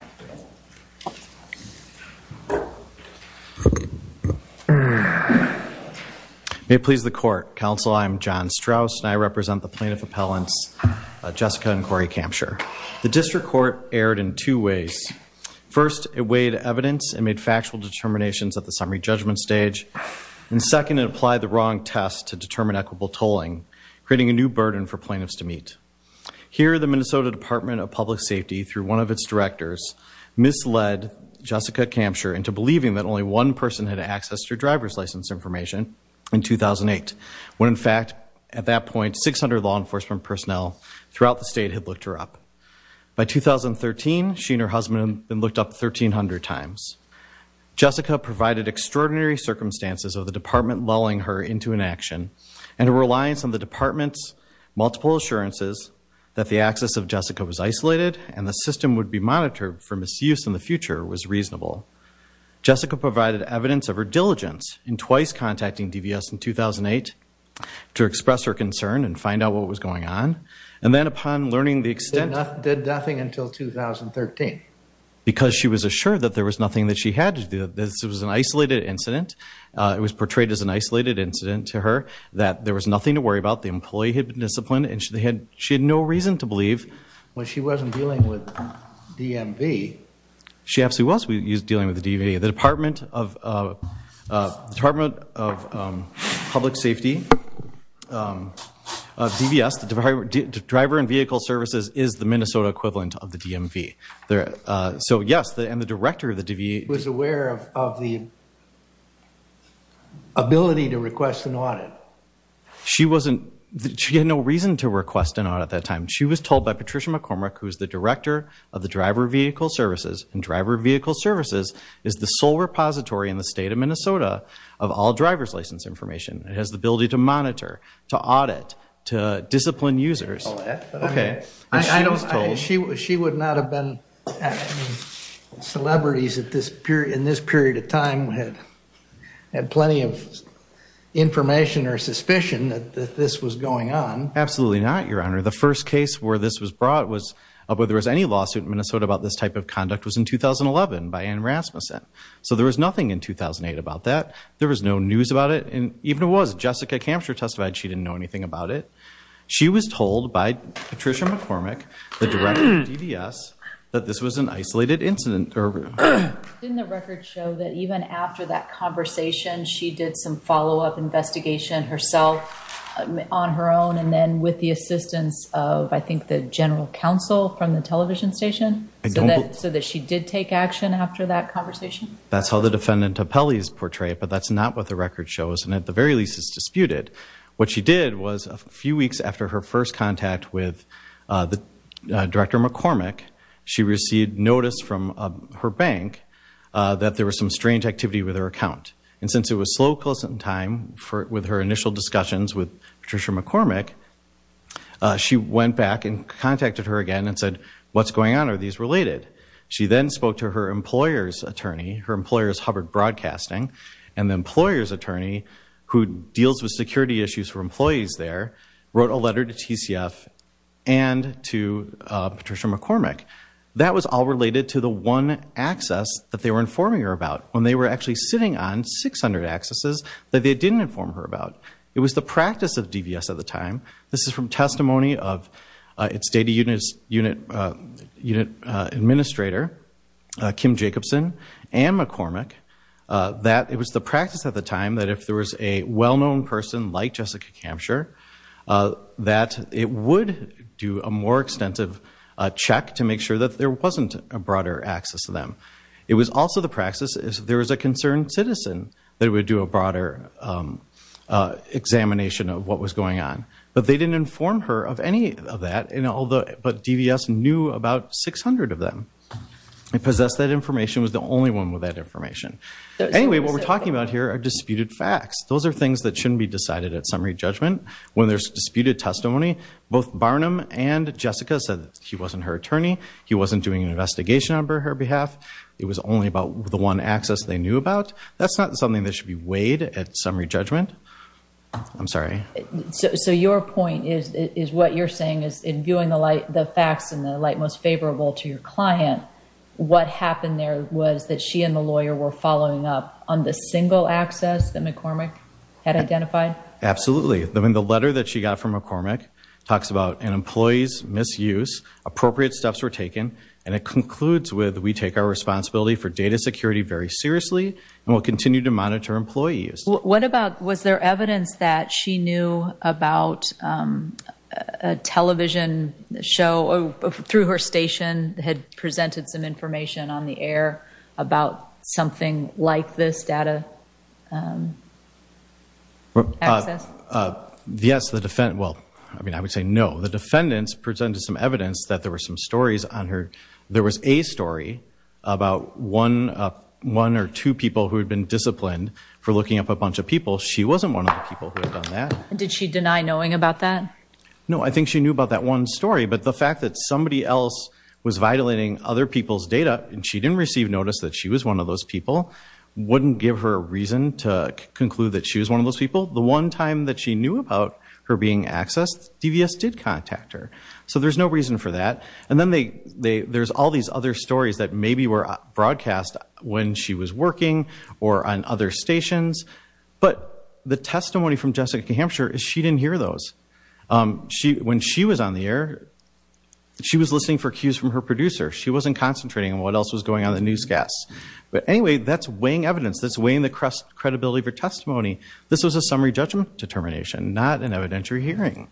District Court is now in session. May it please the court. Council, I'm John Strauss and I represent the plaintiff appellants, Jessica and Corey Kampschroer. The district court erred in two ways. First, it weighed evidence and made factual determinations at the summary judgment stage. And second, it applied the wrong test to determine equitable tolling, creating a new burden for plaintiffs to meet. Here, the Minnesota Department of Public Safety, through one of its directors, is now in session. Second, the district court's misled Jessica Kampschroer into believing that only one person had access to her driver's license information in 2008, when in fact, at that point, 600 law enforcement personnel throughout the state had looked her up. By 2013, she and her husband had been looked up 1,300 times. Jessica provided extraordinary circumstances of the department lulling her into inaction and her reliance on the department's multiple assurances that the access of Jessica was isolated and the system would be monitored for misuse in the future was reasonable. Jessica provided evidence of her diligence in twice contacting DVS in 2008 to express her concern and find out what was going on. And then upon learning the extent... Did nothing until 2013. Because she was assured that there was nothing that she had to do. This was an isolated incident. It was portrayed as an isolated incident to her, that there was nothing to worry about. The employee had been disciplined and she had no reason to believe... Well, she wasn't dealing with DMV. She absolutely was dealing with the DMV. The Department of Public Safety, DVS, Driver and Vehicle Services is the Minnesota equivalent of the DMV. So yes, and the director of the DVS... Was aware of the ability to request an audit. She had no reason to request an audit at that time. She was told by Patricia McCormick, who's the director of the Driver Vehicle Services, and Driver Vehicle Services is the sole repository in the state of Minnesota of all driver's license information. It has the ability to monitor, to audit, to discipline users. She would not have been... Celebrities in this period of time had plenty of information or suspicion that this was going on. Absolutely not, Your Honor. The first case where this was brought was, whether there was any lawsuit in Minnesota about this type of conduct, was in 2011 by Ann Rasmussen. So there was nothing in 2008 about that. There was no news about it. And even if it was, Jessica Kampscher testified she didn't know anything about it. She was told by Patricia McCormick, the director of DVS, that this was an isolated incident. Didn't the record show that even after that conversation, she did some follow-up investigation herself, on her own, and then with the assistance of, I think, the general counsel from the television station? So that she did take action after that conversation? That's how the defendant appellees portray it, but that's not what the record shows, and at the very least is disputed. What she did was, a few weeks after her first contact with Director McCormick, she received notice from her bank that there was some strange activity with her account. And since it was slow closing time with her initial discussions with Patricia McCormick, she went back and contacted her again and said, What's going on? Are these related? She then spoke to her employer's attorney, her employer's Hubbard Broadcasting, and the employer's attorney, who deals with security issues for employees there, wrote a letter to TCF and to Patricia McCormick. That was all related to the one access that they were informing her about, when they were actually sitting on 600 accesses that they didn't inform her about. It was the practice of DVS at the time, this is from testimony of its data unit administrator, Kim Jacobson, and McCormick, that it was the practice at the time that if there was a well-known person like Jessica Kamsher, that it would do a more extensive check to make sure that there wasn't a broader access to them. It was also the practice, if there was a concerned citizen, that it would do a broader examination of what was going on. But they didn't inform her of any of that, but DVS knew about 600 of them. It possessed that information, was the only one with that information. Anyway, what we're talking about here are disputed facts. Those are things that shouldn't be decided at summary judgment. When there's disputed testimony, both Barnum and Jessica said that he wasn't her attorney, he wasn't doing an investigation on her behalf, it was only about the one access they knew about. That's not something that should be weighed at summary judgment. I'm sorry. So your point is what you're saying is in viewing the facts in the light most favorable to your client, what happened there was that she and the lawyer were following up on the single access that McCormick had identified? Absolutely. I mean, the letter that she got from McCormick talks about an employee's misuse, appropriate steps were taken, and it concludes with we take our responsibility for data security very seriously and will continue to monitor employees. What about was there evidence that she knew about a television show through her station and had presented some information on the air about something like this data access? Yes. Well, I mean, I would say no. The defendants presented some evidence that there were some stories on her. There was a story about one or two people who had been disciplined for looking up a bunch of people. She wasn't one of the people who had done that. Did she deny knowing about that? No, I think she knew about that one story, but the fact that somebody else was violating other people's data and she didn't receive notice that she was one of those people wouldn't give her a reason to conclude that she was one of those people. The one time that she knew about her being accessed, DVS did contact her. So there's no reason for that. And then there's all these other stories that maybe were broadcast when she was working or on other stations, but the testimony from Jessica Hampshire is she didn't hear those. When she was on the air, she was listening for cues from her producer. She wasn't concentrating on what else was going on in the newscasts. But anyway, that's weighing evidence. That's weighing the credibility of her testimony. This was a summary judgment determination, not an evidentiary hearing.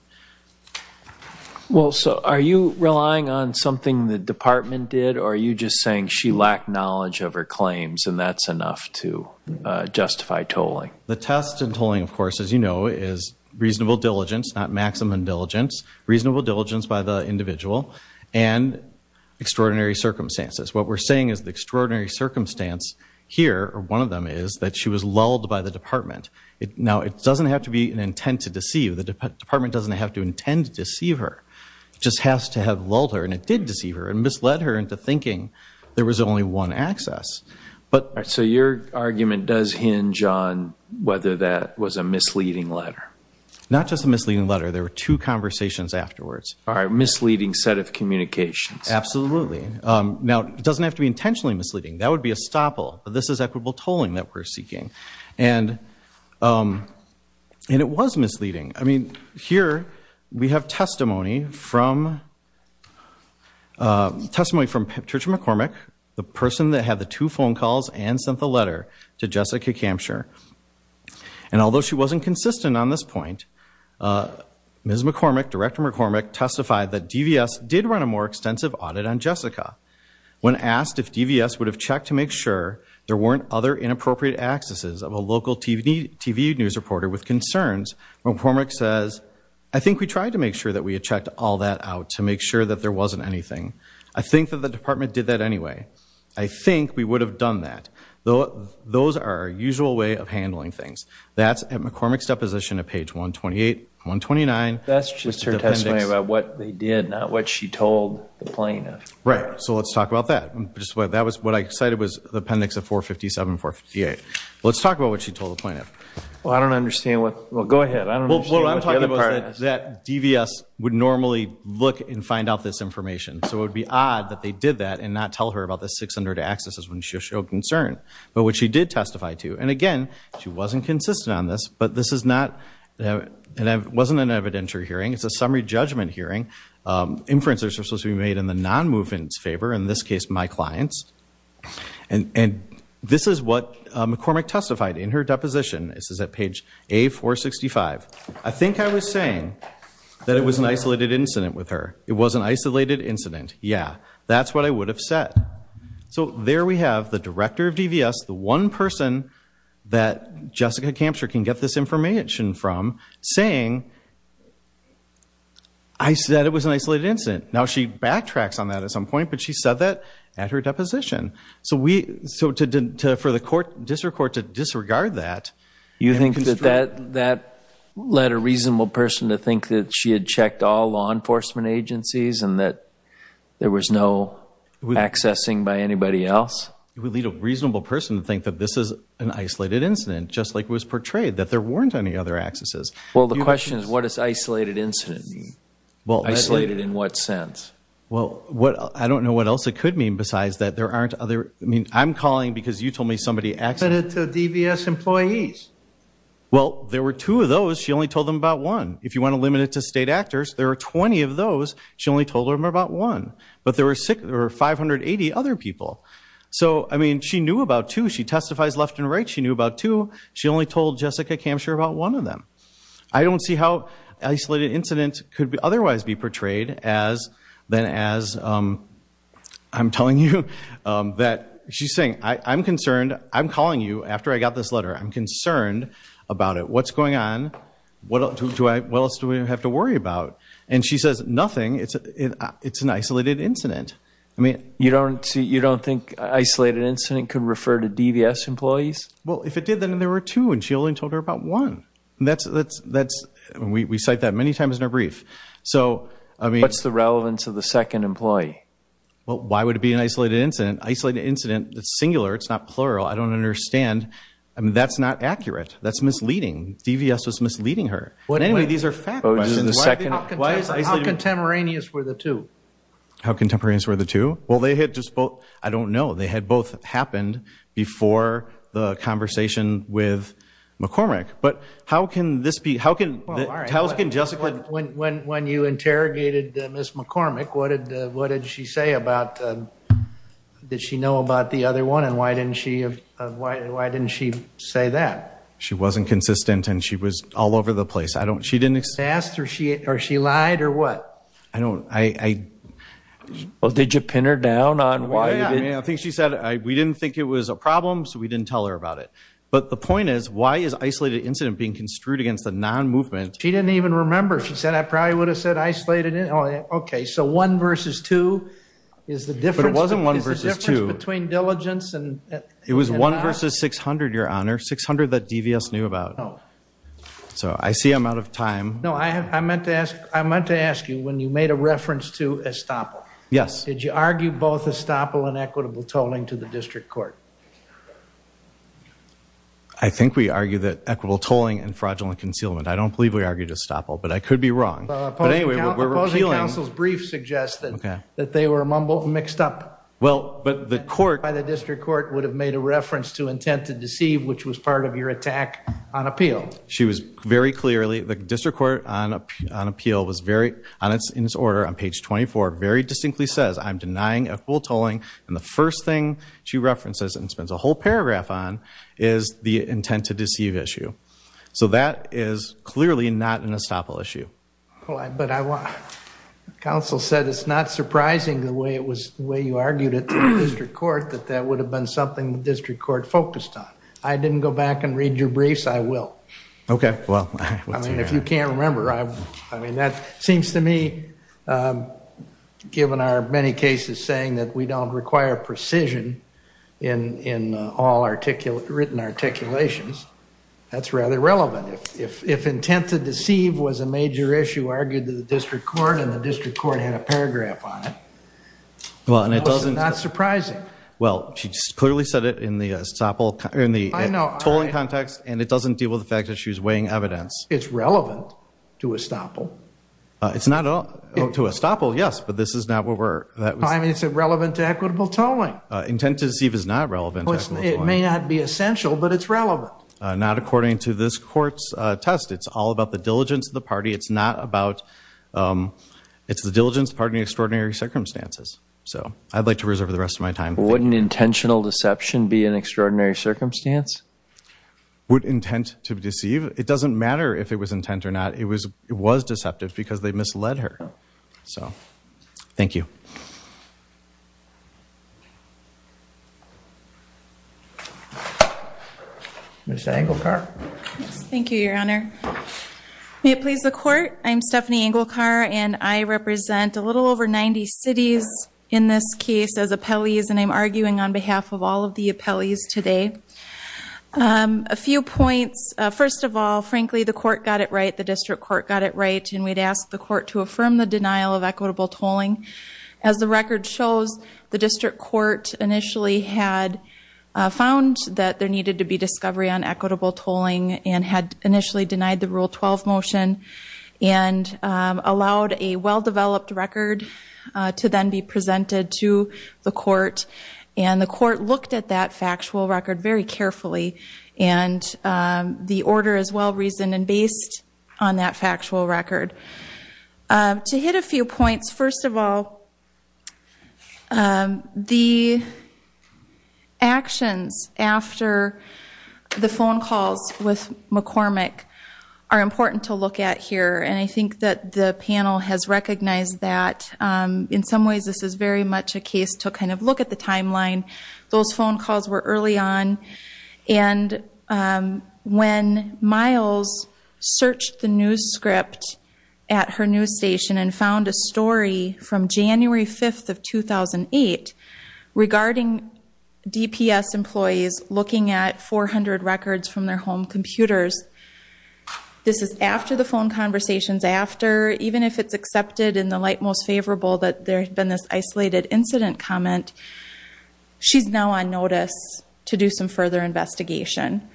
Well, so are you relying on something the department did, or are you just saying she lacked knowledge of her claims and that's enough to justify tolling? The test in tolling, of course, as you know, is reasonable diligence, not maximum diligence. Reasonable diligence by the individual and extraordinary circumstances. What we're saying is the extraordinary circumstance here, or one of them, is that she was lulled by the department. Now, it doesn't have to be an intent to deceive. The department doesn't have to intend to deceive her. It just has to have lulled her, and it did deceive her, and misled her into thinking there was only one access. So your argument does hinge on whether that was a misleading letter. Not just a misleading letter. There were two conversations afterwards. A misleading set of communications. Absolutely. Now, it doesn't have to be intentionally misleading. That would be a stopple. This is equitable tolling that we're seeking. And it was misleading. I mean, here we have testimony from testimony from Patricia McCormick, the person that had the two phone calls and sent the letter to Jessica Kampscher. And although she wasn't consistent on this point, Ms. McCormick, Director McCormick, testified that DVS did run a more extensive audit on Jessica. When asked if DVS would have checked to make sure there weren't other inappropriate accesses of a local TV news reporter with concerns, McCormick says, I think we tried to make sure that we had checked all that out to make sure that there wasn't anything. I think that the department did that anyway. I think we would have done that. Those are our usual way of handling things. That's at McCormick's deposition at page 128, 129. That's just her testimony about what they did, not what she told the plaintiff. Right. So let's talk about that. What I cited was the appendix of 457, 458. Let's talk about what she told the plaintiff. Well, I don't understand what, well, go ahead. I don't understand what the other part is. What I'm talking about is that DVS would normally look and find out this information. So it would be odd that they did that and not tell her about the 600 accesses when she showed concern. But what she did testify to, and again, she wasn't consistent on this, but this is not, it wasn't an evidentiary hearing. It's a summary judgment hearing. Inferences are supposed to be made in the non-movement's favor, in this case my client's. And this is what McCormick testified in her deposition. This is at page A465. I think I was saying that it was an isolated incident with her. It was an isolated incident, yeah. That's what I would have said. So there we have the director of DVS, the one person that Jessica Kampscher can get this information from, saying that it was an isolated incident. Now she backtracks on that at some point, but she said that at her deposition. So for the court, district court, to disregard that. You think that that led a reasonable person to think that she had checked all law enforcement agencies and that there was no accessing by anybody else? It would lead a reasonable person to think that this is an isolated incident, just like it was portrayed, that there weren't any other accesses. Well, the question is what does isolated incident mean? Isolated in what sense? Well, I don't know what else it could mean besides that there aren't other. I mean, I'm calling because you told me somebody accessed. Limited to DVS employees. Well, there were two of those. She only told them about one. If you want to limit it to state actors, there are 20 of those. She only told them about one. But there were 580 other people. So, I mean, she knew about two. She testifies left and right. She knew about two. She only told Jessica Kampscher about one of them. I don't see how isolated incident could otherwise be portrayed than as I'm telling you that she's saying I'm concerned. I'm calling you after I got this letter. I'm concerned about it. What's going on? What else do we have to worry about? And she says nothing. It's an isolated incident. You don't think isolated incident could refer to DVS employees? Well, if it did, then there were two, and she only told her about one. We cite that many times in our brief. What's the relevance of the second employee? Well, why would it be an isolated incident? Isolated incident, it's singular. It's not plural. I don't understand. I mean, that's not accurate. That's misleading. DVS was misleading her. But anyway, these are facts. How contemporaneous were the two? How contemporaneous were the two? Well, they had just both. I don't know. They had both happened before the conversation with McCormick. But how can this be? When you interrogated Ms. McCormick, what did she say about the other one? And why didn't she say that? She wasn't consistent, and she was all over the place. She didn't explain. She asked, or she lied, or what? I don't. Well, did you pin her down on why? I think she said, we didn't think it was a problem, so we didn't tell her about it. But the point is, why is isolated incident being construed against a non-movement? She didn't even remember. She said, I probably would have said isolated. OK, so one versus two is the difference. But it wasn't one versus two. It's the difference between diligence and not. It was one versus 600, Your Honor, 600 that DVS knew about. Oh. So I see I'm out of time. No, I meant to ask you when you made a reference to estoppel. Yes. Did you argue both estoppel and equitable tolling to the district court? I think we argued that equitable tolling and fraudulent concealment. I don't believe we argued estoppel, but I could be wrong. But anyway, we're repealing. The opposing counsel's brief suggested that they were mumbled and mixed up. Well, but the court. By the district court would have made a reference to intent to deceive, which was part of your attack on appeal. She was very clearly, the district court on appeal was very, in its order on page 24, very distinctly says, I'm denying equitable tolling. And the first thing she references and spends a whole paragraph on is the intent to deceive issue. So that is clearly not an estoppel issue. But counsel said it's not surprising the way it was, the way you argued it to the district court, that that would have been something the district court focused on. I didn't go back and read your briefs. I will. OK, well. I mean, if you can't remember, I mean, that seems to me, given our many cases saying that we don't require precision in all written articulations, that's rather relevant. If intent to deceive was a major issue argued to the district court and the district court had a paragraph on it, that was not surprising. Well, she clearly said it in the estoppel, in the tolling context, and it doesn't deal with the fact that she was weighing evidence. It's relevant to estoppel. It's not to estoppel, yes, but this is not what we're. I mean, it's relevant to equitable tolling. Intent to deceive is not relevant to equitable tolling. It may not be essential, but it's relevant. Not according to this court's test. It's all about the diligence of the party. It's not about, it's the diligence of the party in extraordinary circumstances. So I'd like to reserve the rest of my time. Wouldn't intentional deception be an extraordinary circumstance? Would intent to deceive? It doesn't matter if it was intent or not. It was deceptive because they misled her. So, thank you. Ms. Anglecar. Thank you, Your Honor. May it please the court, I'm Stephanie Anglecar, and I represent a little over 90 cities in this case as appellees, and I'm arguing on behalf of all of the appellees today. A few points. First of all, frankly, the court got it right, the district court got it right, and we'd ask the court to affirm the denial of equitable tolling. As the record shows, the district court initially had found that there needed to be discovery on equitable tolling and had initially denied the Rule 12 motion and allowed a well-developed record to then be presented to the court, and the court looked at that factual record very carefully, and the order is well-reasoned and based on that factual record. To hit a few points, first of all, the actions after the phone calls with McCormick are important to look at here, and I think that the panel has recognized that. In some ways, this is very much a case to kind of look at the timeline. Those phone calls were early on, and when Miles searched the news script at her news station and found a story from January 5th of 2008 regarding DPS employees looking at 400 records from their home computers, this is after the phone conversations, after, even if it's accepted in the light most favorable that there had been this isolated incident comment, she's now on notice to do some further investigation,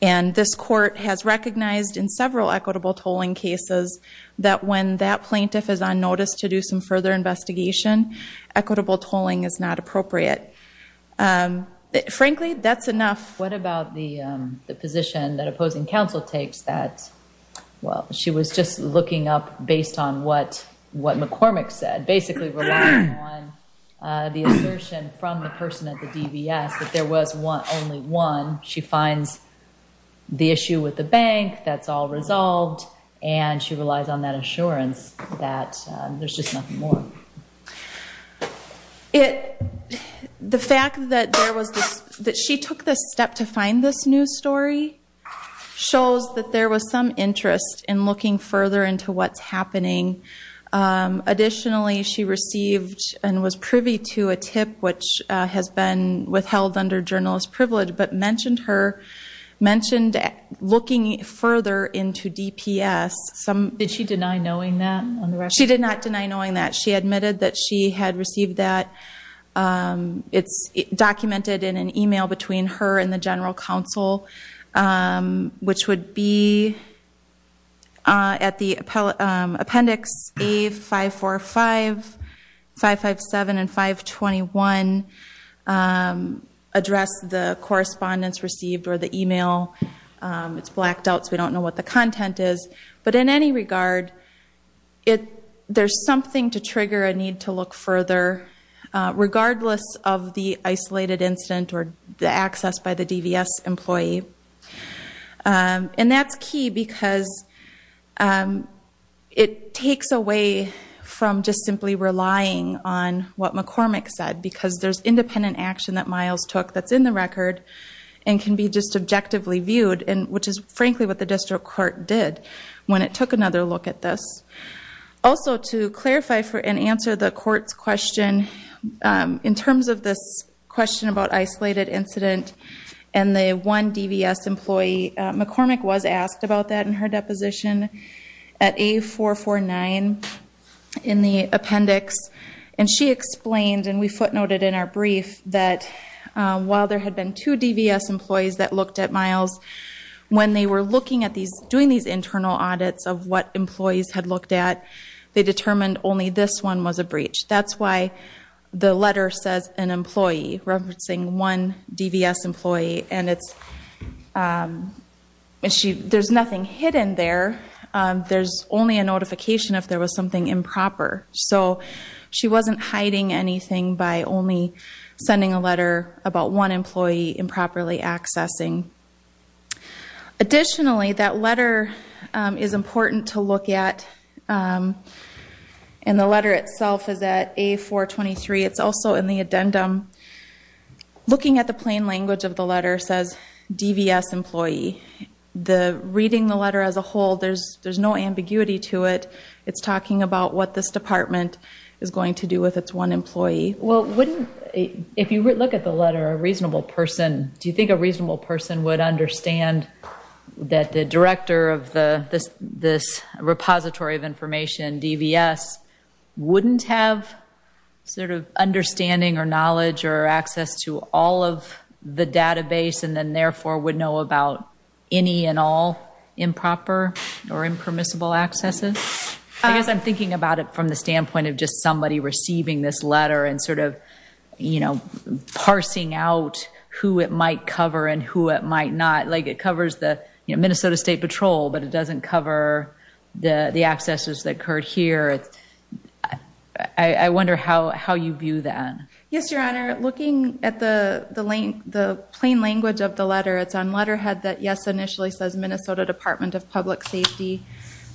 and this court has recognized in several equitable tolling cases that when that plaintiff is on notice to do some further investigation, equitable tolling is not appropriate. Frankly, that's enough. What about the position that opposing counsel takes that, well, she was just looking up based on what McCormick said, basically relying on the assertion from the person at the DPS that there was only one. She finds the issue with the bank, that's all resolved, and she relies on that assurance that there's just nothing more. The fact that she took the step to find this news story shows that there was some interest in looking further into what's happening. Additionally, she received and was privy to a tip which has been withheld under journalist privilege but mentioned looking further into DPS. Did she deny knowing that? She did not deny knowing that. She admitted that she had received that. It's documented in an email between her and the general counsel which would be at the appendix A545, 557, and 521, address the correspondence received or the email. It's blacked out so we don't know what the content is. But in any regard, there's something to trigger a need to look further regardless of the isolated incident or the access by the DPS employee. And that's key because it takes away from just simply relying on what McCormick said because there's independent action that Miles took that's in the record and can be just objectively viewed, which is frankly what the district court did when it took another look at this. Also, to clarify and answer the court's question, in terms of this question about isolated incident and the one DPS employee, McCormick was asked about that in her deposition at A449 in the appendix, and she explained, and we footnoted in our brief, that while there had been two DPS employees that looked at Miles, when they were doing these internal audits of what employees had looked at, they determined only this one was a breach. That's why the letter says an employee, referencing one DPS employee, and there's nothing hidden there. There's only a notification if there was something improper. So she wasn't hiding anything by only sending a letter about one employee improperly accessing. Additionally, that letter is important to look at, and the letter itself is at A423. It's also in the addendum. Looking at the plain language of the letter says DPS employee. Reading the letter as a whole, there's no ambiguity to it. It's talking about what this department is going to do with its one employee. Well, if you look at the letter, a reasonable person, do you think a reasonable person would understand that the director of this repository of information, DVS, wouldn't have sort of understanding or knowledge or access to all of the database and then therefore would know about any and all improper or impermissible accesses? I guess I'm thinking about it from the standpoint of just somebody receiving this letter and sort of parsing out who it might cover and who it might not. Like it covers the Minnesota State Patrol, but it doesn't cover the accesses that occurred here. I wonder how you view that. Yes, Your Honor, looking at the plain language of the letter, it's on letterhead that, yes, initially says Minnesota Department of Public Safety.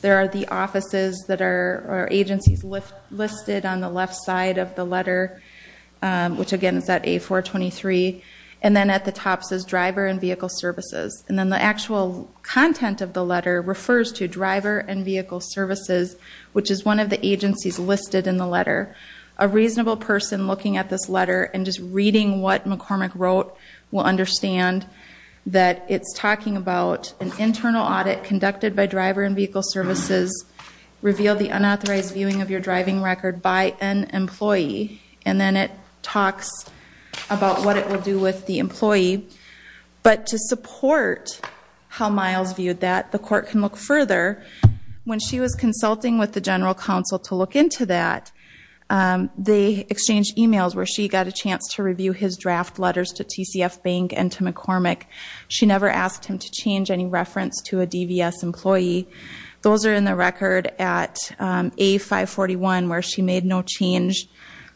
There are the offices or agencies listed on the left side of the letter, which, again, is at A423. And then at the top says Driver and Vehicle Services. And then the actual content of the letter refers to Driver and Vehicle Services, which is one of the agencies listed in the letter. A reasonable person looking at this letter and just reading what McCormick wrote will understand that it's talking about an internal audit conducted by Driver and Vehicle Services revealed the unauthorized viewing of your driving record by an employee. And then it talks about what it would do with the employee. But to support how Miles viewed that, the court can look further. When she was consulting with the general counsel to look into that, they exchanged e-mails where she got a chance to review his draft letters to TCF Bank and to McCormick. She never asked him to change any reference to a DVS employee. Those are in the record at A541 where she made no change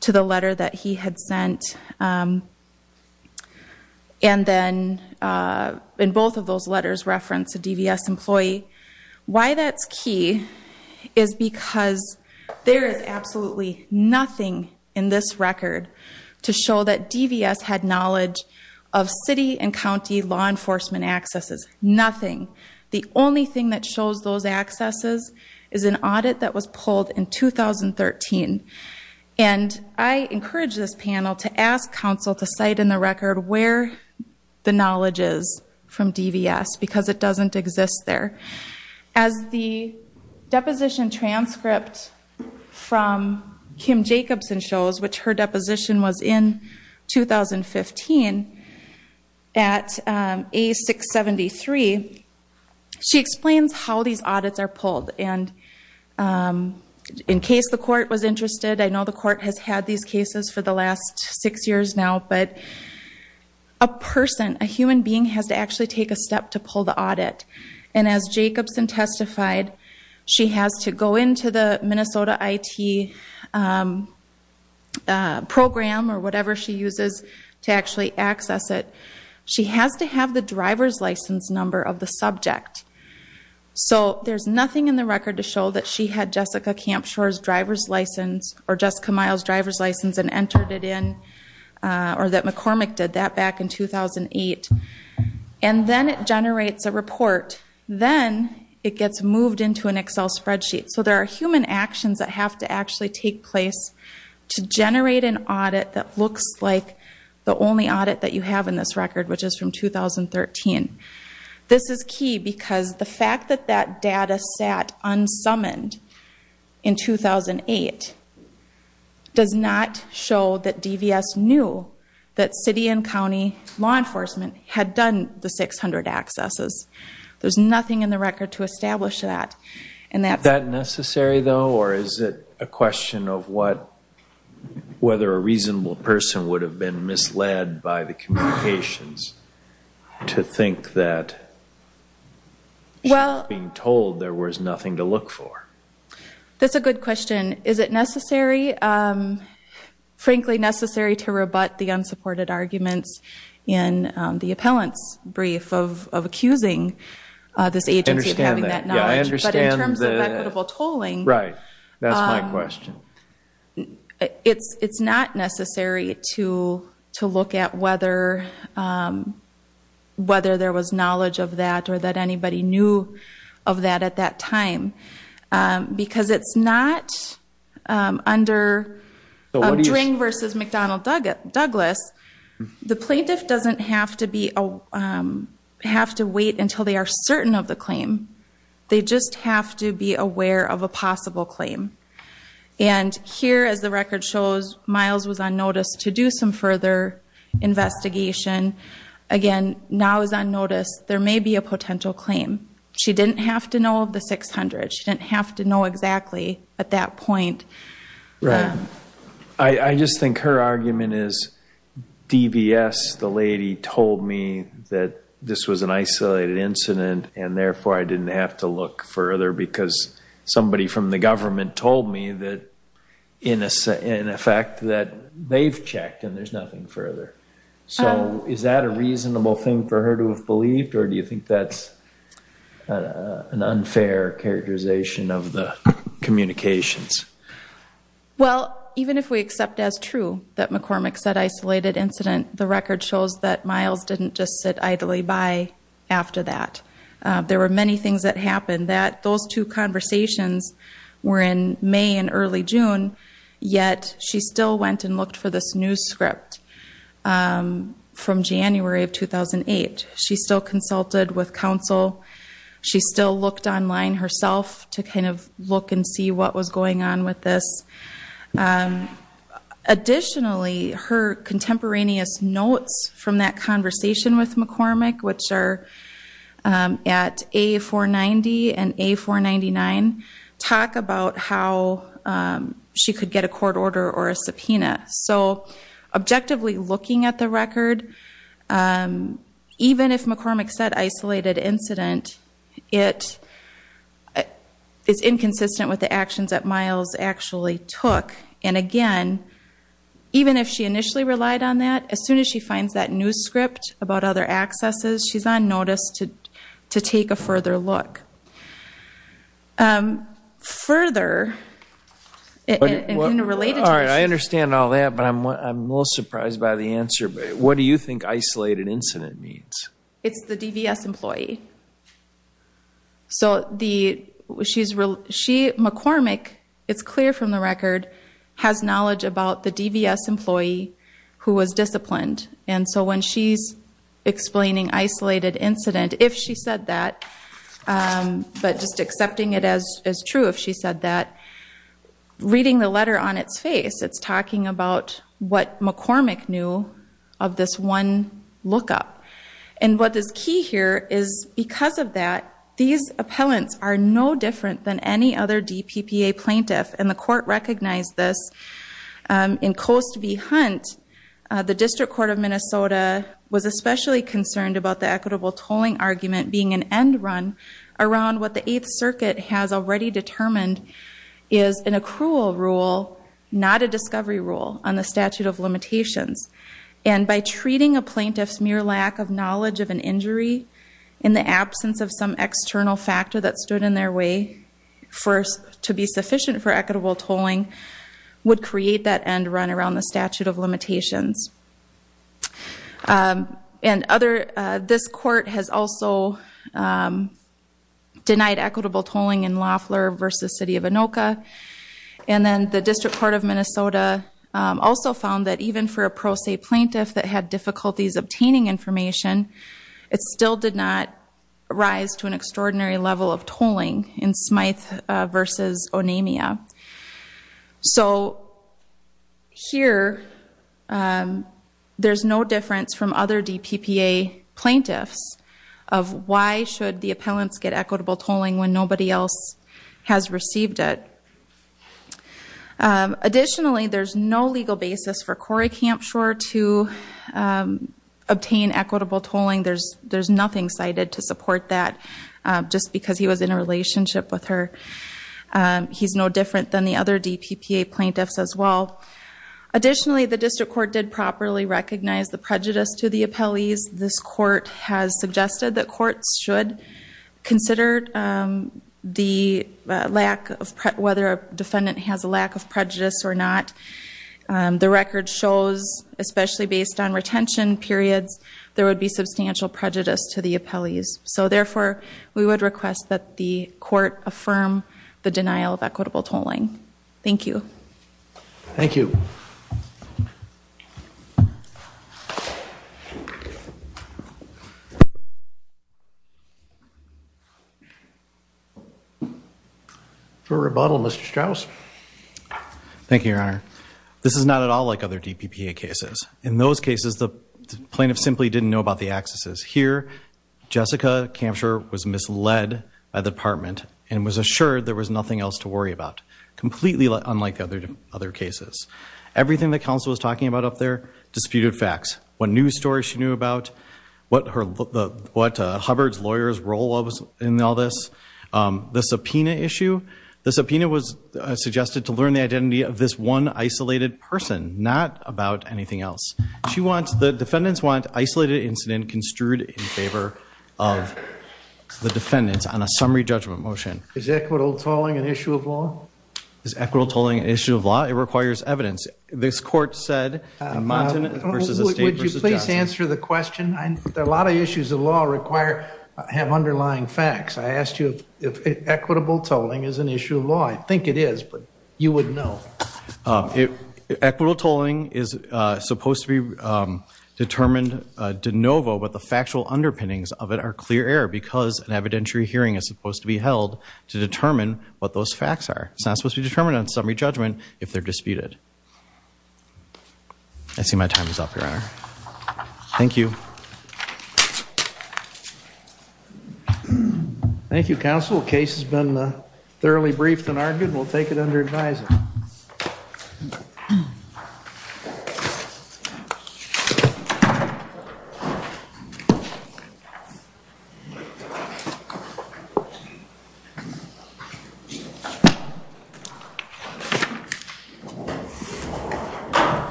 to the letter that he had sent. And then in both of those letters reference a DVS employee. Why that's key is because there is absolutely nothing in this record to show that DVS had knowledge of city and county law enforcement accesses. Nothing. The only thing that shows those accesses is an audit that was pulled in 2013. And I encourage this panel to ask counsel to cite in the record where the knowledge is from DVS because it doesn't exist there. As the deposition transcript from Kim Jacobson shows, which her deposition was in 2015 at A673, she explains how these audits are pulled. And in case the court was interested, I know the court has had these cases for the last six years now, but a person, a human being, has to actually take a step to pull the audit. And as Jacobson testified, she has to go into the Minnesota IT program or whatever she uses to actually access it. She has to have the driver's license number of the subject. So there's nothing in the record to show that she had Jessica Campshore's driver's license or Jessica Miles' driver's license and entered it in or that McCormick did that back in 2008. And then it generates a report. Then it gets moved into an Excel spreadsheet. So there are human actions that have to actually take place to generate an audit that looks like the only audit that you have in this record, which is from 2013. This is key because the fact that that data sat unsummoned in 2008 does not show that DVS knew that city and county law enforcement had done the 600 accesses. There's nothing in the record to establish that. Is that necessary, though, or is it a question of whether a reasonable person would have been misled by the communications to think that she was being told there was nothing to look for? That's a good question. Is it necessary, frankly necessary, to rebut the unsupported arguments in the appellant's brief of accusing this agency of having that knowledge? I understand that. But in terms of equitable tolling. Right. That's my question. It's not necessary to look at whether there was knowledge of that or that anybody knew of that at that time because it's not under a Dring versus McDonnell Douglas. The plaintiff doesn't have to wait until they are certain of the claim. They just have to be aware of a possible claim. Here, as the record shows, Miles was on notice to do some further investigation. Again, now is on notice. There may be a potential claim. She didn't have to know of the 600. She didn't have to know exactly at that point. Right. I just think her argument is DVS, the lady, told me that this was an isolated incident and therefore I didn't have to look further because somebody from the government told me in effect that they've checked and there's nothing further. So is that a reasonable thing for her to have believed or do you think that's an unfair characterization of the communications? Well, even if we accept as true that McCormick said isolated incident, the record shows that Miles didn't just sit idly by after that. There were many things that happened. Those two conversations were in May and early June, yet she still went and looked for this news script from January of 2008. She still consulted with counsel. She still looked online herself to kind of look and see what was going on with this. Additionally, her contemporaneous notes from that conversation with McCormick, which are at A490 and A499, talk about how she could get a court order or a subpoena. So objectively looking at the record, even if McCormick said isolated incident, it is inconsistent with the actions that Miles actually took. And again, even if she initially relied on that, as soon as she finds that news script about other accesses, she's on notice to take a further look. Further, in related to this. All right, I understand all that, but I'm a little surprised by the answer. What do you think isolated incident means? It's the DVS employee. So McCormick, it's clear from the record, has knowledge about the DVS employee who was disciplined. And so when she's explaining isolated incident, if she said that, but just accepting it as true if she said that, reading the letter on its face, it's talking about what McCormick knew of this one lookup. And what is key here is because of that, these appellants are no different than any other DPPA plaintiff, and the court recognized this. In Coast v. Hunt, the District Court of Minnesota was especially concerned about the equitable tolling argument being an end run around what the Eighth Circuit has already determined is an accrual rule, not a discovery rule, on the statute of limitations. And by treating a plaintiff's mere lack of knowledge of an injury in the absence of some external factor that stood in their way to be sufficient for equitable tolling would create that end run around the statute of limitations. This court has also denied equitable tolling in Loeffler v. City of Anoka. And then the District Court of Minnesota also found that even for a pro se plaintiff that had difficulties obtaining information, it still did not rise to an extraordinary level of tolling in Smyth v. Onamia. So here, there's no difference from other DPPA plaintiffs of why should the appellants get equitable tolling when nobody else has received it. Additionally, there's no legal basis for Corey Campshore to obtain equitable tolling. There's nothing cited to support that, just because he was in a relationship with her. He's no different than the other DPPA plaintiffs as well. Additionally, the District Court did properly recognize the prejudice to the appellees. This court has suggested that courts should consider whether a defendant has a lack of prejudice or not. The record shows, especially based on retention periods, there would be substantial prejudice to the appellees. So therefore, we would request that the court affirm the denial of equitable tolling. Thank you. Thank you. For rebuttal, Mr. Strauss. Thank you, Your Honor. This is not at all like other DPPA cases. In those cases, the plaintiff simply didn't know about the accesses. Here, Jessica Campshore was misled by the department and was assured there was nothing else to worry about, completely unlike other cases. Everything the counsel was talking about up there disputed facts. What news stories she knew about, what Hubbard's lawyer's role was in all this, the subpoena issue. The subpoena was suggested to learn the identity of this one isolated person, not about anything else. The defendants want isolated incident construed in favor of the defendants on a summary judgment motion. Is equitable tolling an issue of law? Is equitable tolling an issue of law? It requires evidence. This court said in Montanant v. Estate v. Johnson. Would you please answer the question? A lot of issues of law have underlying facts. I asked you if equitable tolling is an issue of law. I think it is, but you would know. Equitable tolling is supposed to be determined de novo, but the factual underpinnings of it are clear error because an evidentiary hearing is supposed to be held to determine what those facts are. It's not supposed to be determined on summary judgment if they're disputed. I see my time is up, Your Honor. Thank you. Thank you, Counsel. The case has been thoroughly briefed and argued. We'll take it under advisory.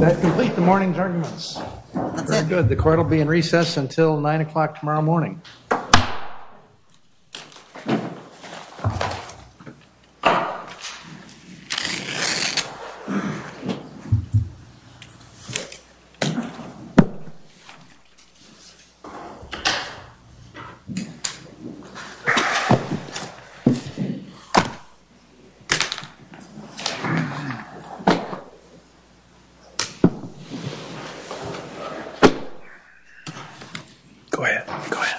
That completes the morning's arguments. Very good. The court will be in recess until 9 o'clock tomorrow morning. Go ahead. Go ahead. Thank you.